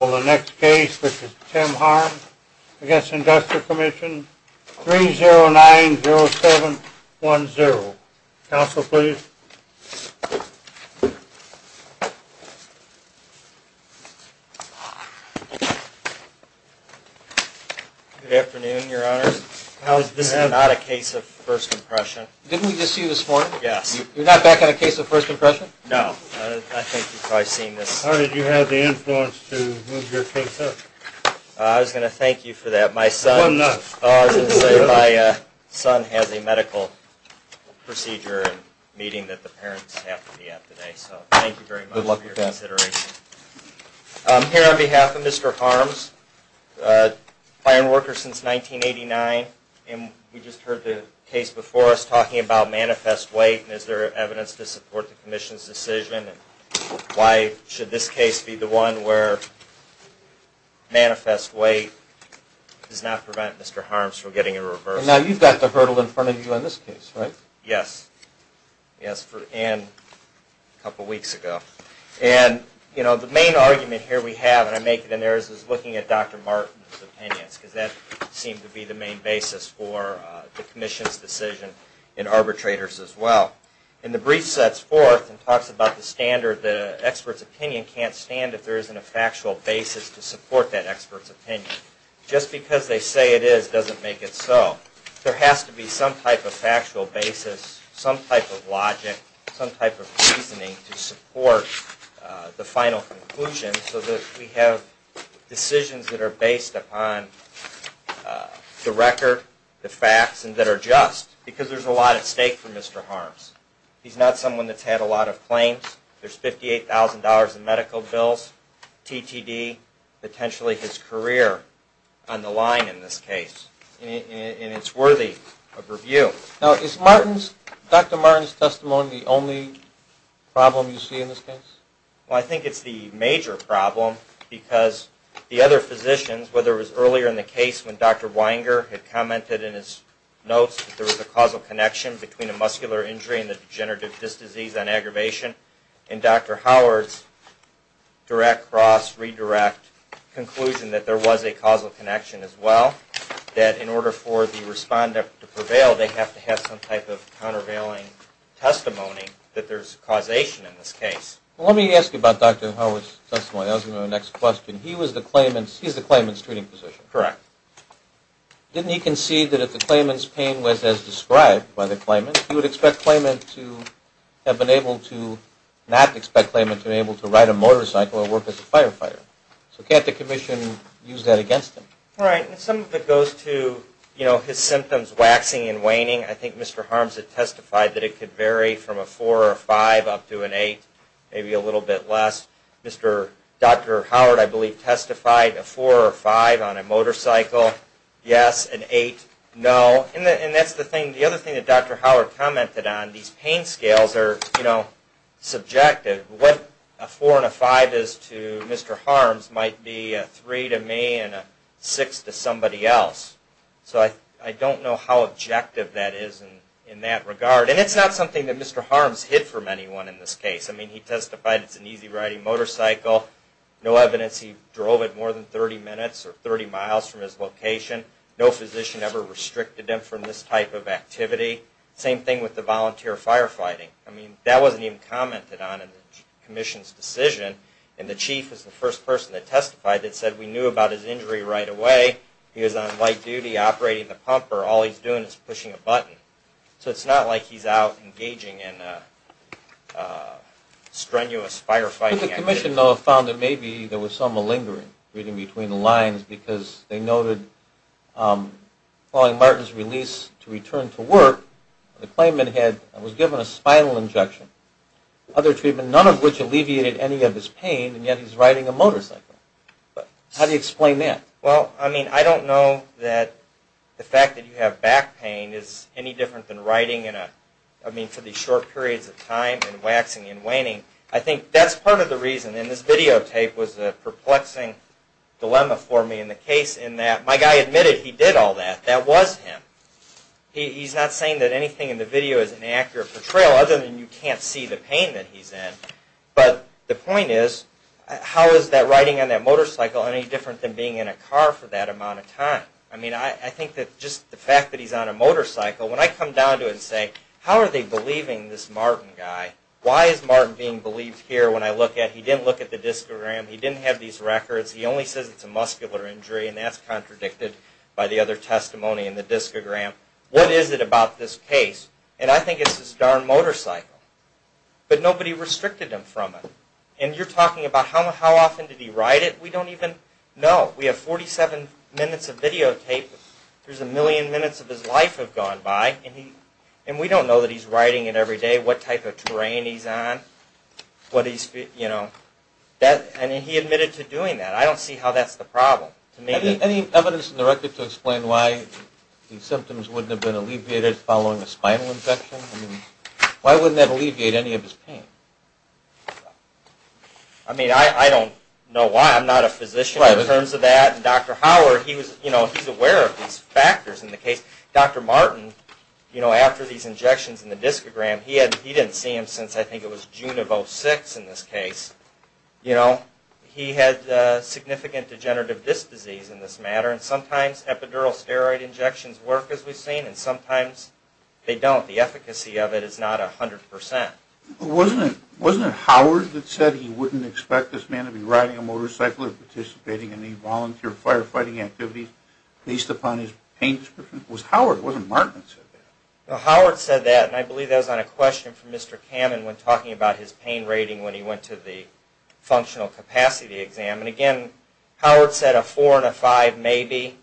Well, the next case, which is Tim Harms v. Industrial Commission, 3090710. Counsel, please. Good afternoon, Your Honors. This is not a case of first impression. Didn't we just see this morning? Yes. You're not back on a case of first impression? No. I think you've probably seen this. How did you have the influence to move your case up? I was going to thank you for that. My son has a medical procedure meeting that the parents have to be at today. So, thank you very much for your consideration. I'm here on behalf of Mr. Harms, a fire worker since 1989, and we just heard the case before us talking about manifest weight. Is there evidence to support the Commission's decision? Why should this case be the one where manifest weight does not prevent Mr. Harms from getting a reverse? Now, you've got the hurdle in front of you on this case, right? Yes. And a couple weeks ago. And, you know, the main argument here we have, and I make it in there, is looking at Dr. Martin's opinions. Because that seemed to be the main basis for the Commission's decision and arbitrators' as well. And the brief sets forth and talks about the standard that an expert's opinion can't stand if there isn't a factual basis to support that expert's opinion. Just because they say it is doesn't make it so. There has to be some type of factual basis, some type of logic, some type of reasoning to support the final conclusion so that we have decisions that are based upon the record, the facts, and that are just. Because there's a lot at stake for Mr. Harms. He's not someone that's had a lot of claims. There's $58,000 in medical bills, TTD, potentially his career on the line in this case. And it's worthy of review. Now, is Dr. Martin's testimony the only problem you see in this case? Well, I think it's the major problem because the other physicians, whether it was earlier in the case when Dr. Weinger had commented in his notes that there was a causal connection between a muscular injury and the degenerative disc disease on aggravation and Dr. Howard's direct, cross, redirect conclusion that there was a causal connection as well, that in order for the respondent to prevail, they have to have some type of countervailing testimony that there's causation in this case. Well, let me ask you about Dr. Howard's testimony. I was going to go to the next question. He was the claimant's, he's the claimant's treating physician. Correct. Didn't he concede that if the claimant's pain was as described by the claimant, he would expect the claimant to have been able to, not expect the claimant to have been able to ride a motorcycle or work as a firefighter? So can't the commission use that against him? Right, and some of it goes to, you know, his symptoms waxing and waning. I think Mr. Harms had testified that it could vary from a 4 or a 5 up to an 8, maybe a little bit less. Mr. Dr. Howard, I believe, testified a 4 or a 5 on a motorcycle, yes, an 8, no. And that's the thing, the other thing that Dr. Howard commented on, these pain scales are, you know, subjective. What a 4 and a 5 is to Mr. Harms might be a 3 to me and a 6 to somebody else. So I don't know how objective that is in that regard. And it's not something that Mr. Harms hid from anyone in this case. I mean, he testified it's an easy riding motorcycle. No evidence he drove it more than 30 minutes or 30 miles from his location. No physician ever restricted him from this type of activity. Same thing with the volunteer firefighting. I mean, that wasn't even commented on in the commission's decision. And the chief is the first person that testified that said we knew about his injury right away. He was on light duty operating the pumper. All he's doing is pushing a button. So it's not like he's out engaging in strenuous firefighting activity. I believe the commission, though, found that maybe there was some malingering, reading between the lines, because they noted following Martin's release to return to work, the claimant was given a spinal injection, other treatment, none of which alleviated any of his pain, and yet he's riding a motorcycle. How do you explain that? Well, I mean, I don't know that the fact that you have back pain is any different than riding in a, I mean, for these short periods of time and waxing and waning. I think that's part of the reason, and this videotape was a perplexing dilemma for me in the case in that my guy admitted he did all that. That was him. He's not saying that anything in the video is an accurate portrayal, other than you can't see the pain that he's in. But the point is, how is that riding on that motorcycle any different than being in a car for that amount of time? I mean, I think that just the fact that he's on a motorcycle, when I come down to it and say, how are they believing this Martin guy, why is Martin being believed here when I look at, he didn't look at the discogram, he didn't have these records, he only says it's a muscular injury, and that's contradicted by the other testimony in the discogram. What is it about this case? And I think it's this darn motorcycle. But nobody restricted him from it. And you're talking about how often did he ride it? We don't even know. We have 47 minutes of videotape. There's a million minutes of his life have gone by, and we don't know that he's riding it every day, what type of terrain he's on, what he's, you know. And he admitted to doing that. I don't see how that's the problem. Any evidence in the record to explain why these symptoms wouldn't have been alleviated following a spinal infection? I mean, why wouldn't that alleviate any of his pain? I mean, I don't know why. I'm not a physician in terms of that. And Dr. Howard, he was, you know, he's aware of these factors in the case. Dr. Martin, you know, after these injections in the discogram, he didn't see him since I think it was June of 06 in this case. You know, he had significant degenerative disc disease in this matter, and sometimes epidural steroid injections work as we've seen, and sometimes they don't. The efficacy of it is not 100%. Wasn't it Howard that said he wouldn't expect this man to be riding a motorcycle or participating in any volunteer firefighting activities based upon his pain description? Was Howard, wasn't Martin that said that? No, Howard said that, and I believe that was on a question from Mr. Kamen when talking about his pain rating when he went to the functional capacity exam. And again, Howard said a 4 and a 5 maybe.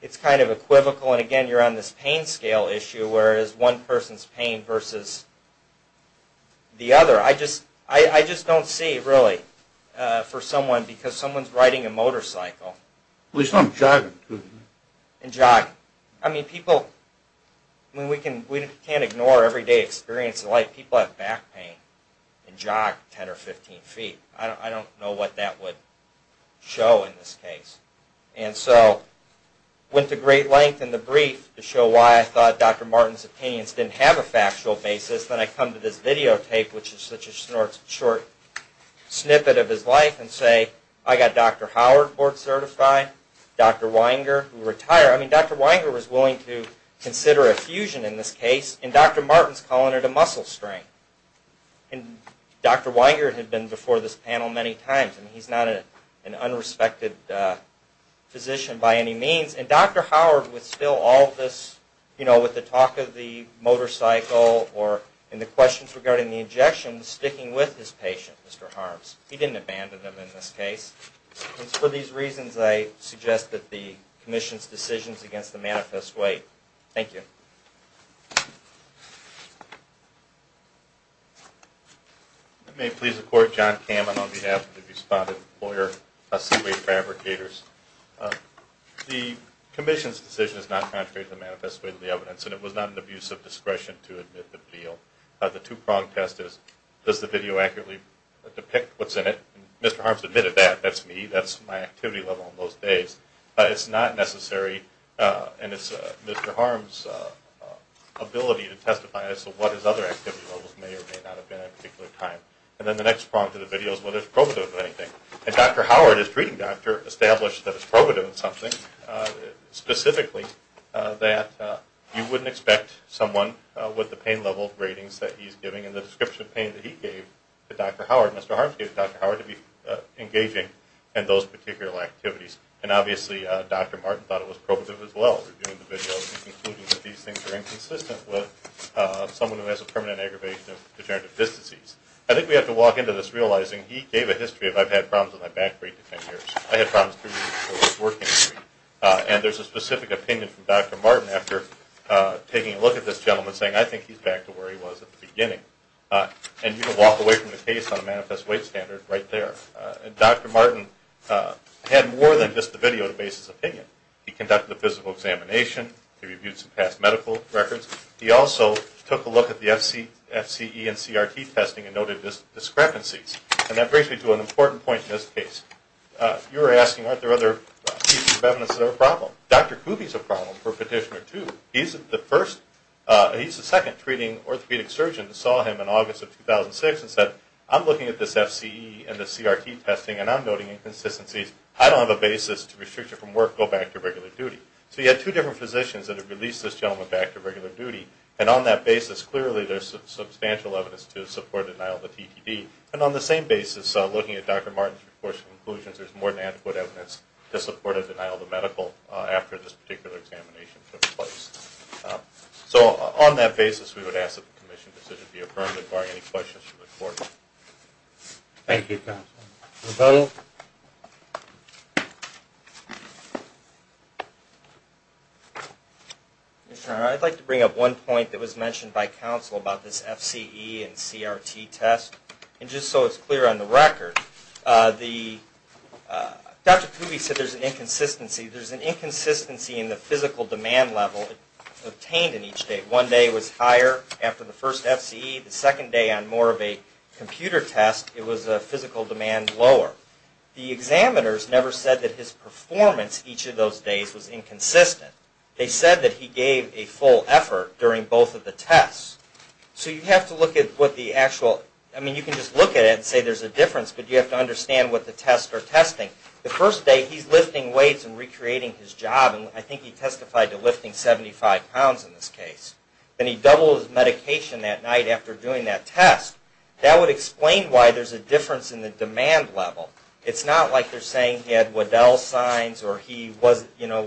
It's kind of equivocal, and again, you're on this pain scale issue where it is one person's pain versus the other. I just don't see, really, for someone, because someone's riding a motorcycle. At least not jogging. And jogging. I mean, people, I mean, we can't ignore everyday experience in life. People have back pain and jog 10 or 15 feet. I don't know what that would show in this case. And so, went to great length in the brief to show why I thought Dr. Martin's opinions didn't have a factual basis. Then I come to this videotape, which is such a short snippet of his life, and say, I got Dr. Howard board certified, Dr. Weinger, who retired. I mean, Dr. Weinger was willing to consider a fusion in this case, and Dr. Martin's calling it a muscle strain. And Dr. Weinger had been before this panel many times, and he's not an unrespected physician by any means. And Dr. Howard, with still all of this, you know, with the talk of the motorcycle, or in the questions regarding the injection, was sticking with his patient, Mr. Harms. He didn't abandon him in this case. And for these reasons, I suggest that the commission's decisions against the manifest weight. Thank you. May it please the court, John Kamen on behalf of the respondent lawyer, Seaway Fabricators. The commission's decision is not contrary to the manifest weight of the evidence, and it was not an abuse of discretion to admit the video. The two-prong test is, does the video accurately depict what's in it? Mr. Harms admitted that. That's me. That's my activity level in those days. It's not necessary, and it's Mr. Harms' ability to testify as to what his other activity levels may or may not have been at a particular time. And then the next prong to the video is whether it's probative of anything. And Dr. Howard, as treating doctor, established that it's probative of something, specifically that you wouldn't expect someone with the pain level ratings that he's giving and the description of pain that he gave to Dr. Howard, Mr. Harms gave Dr. Howard, to be engaging in those particular activities. And obviously, Dr. Martin thought it was probative as well, reviewing the video and concluding that these things are inconsistent with someone who has a permanent aggravation of degenerative disc disease. I think we have to walk into this realizing he gave a history of, I've had problems with my back for eight to ten years. I had problems three years before I was working. And there's a specific opinion from Dr. Martin after taking a look at this gentleman saying, I think he's back to where he was at the beginning. And you can walk away from the case on a manifest weight standard right there. And Dr. Martin had more than just the video to base his opinion. He conducted a physical examination. He reviewed some past medical records. He also took a look at the FCE and CRT testing and noted discrepancies. And that brings me to an important point in this case. You were asking, aren't there other pieces of evidence that are a problem? Dr. Kube is a problem for Petitioner 2. He's the first, he's the second treating orthopedic surgeon that saw him in August of 2006 and said, I'm looking at this FCE and this CRT testing and I'm noting inconsistencies. I don't have a basis to restrict you from work, go back to regular duty. So you had two different physicians that had released this gentleman back to regular duty. And on that basis, clearly there's substantial evidence to support denial of a TTD. And on the same basis, looking at Dr. Martin's recourse conclusions, there's more than adequate evidence to support a denial of a medical after this particular examination took place. So on that basis, we would ask that the Commission's decision be affirmed, requiring any questions from the Court. Thank you, counsel. And just so it's clear on the record, Dr. Kube said there's an inconsistency. There's an inconsistency in the physical demand level obtained in each day. One day it was higher after the first FCE. The second day on more of a computer test, it was a physical demand lower. The examiners never said that his performance each of those days was inconsistent. They said that he gave a full effort during both of the tests. So you have to look at what the actual, I mean you can just look at it and say there's a difference, but you have to understand what the tests are testing. The first day he's lifting weights and recreating his job, and I think he testified to lifting 75 pounds in this case. Then he doubled his medication that night after doing that test. That would explain why there's a difference in the demand level. It's not like they're saying he had Waddell signs or he was, you know,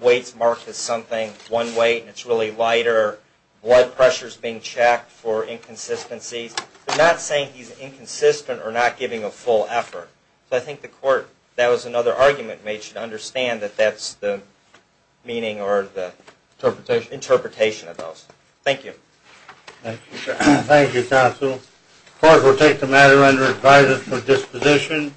weights marked as something, one weight and it's really lighter, blood pressure's being checked for inconsistencies. They're not saying he's inconsistent or not giving a full effort. So I think the Court, that was another argument made, should understand that that's the meaning or the interpretation of those. Thank you. Thank you, Counsel. The Court will take the matter under advisory for disposition.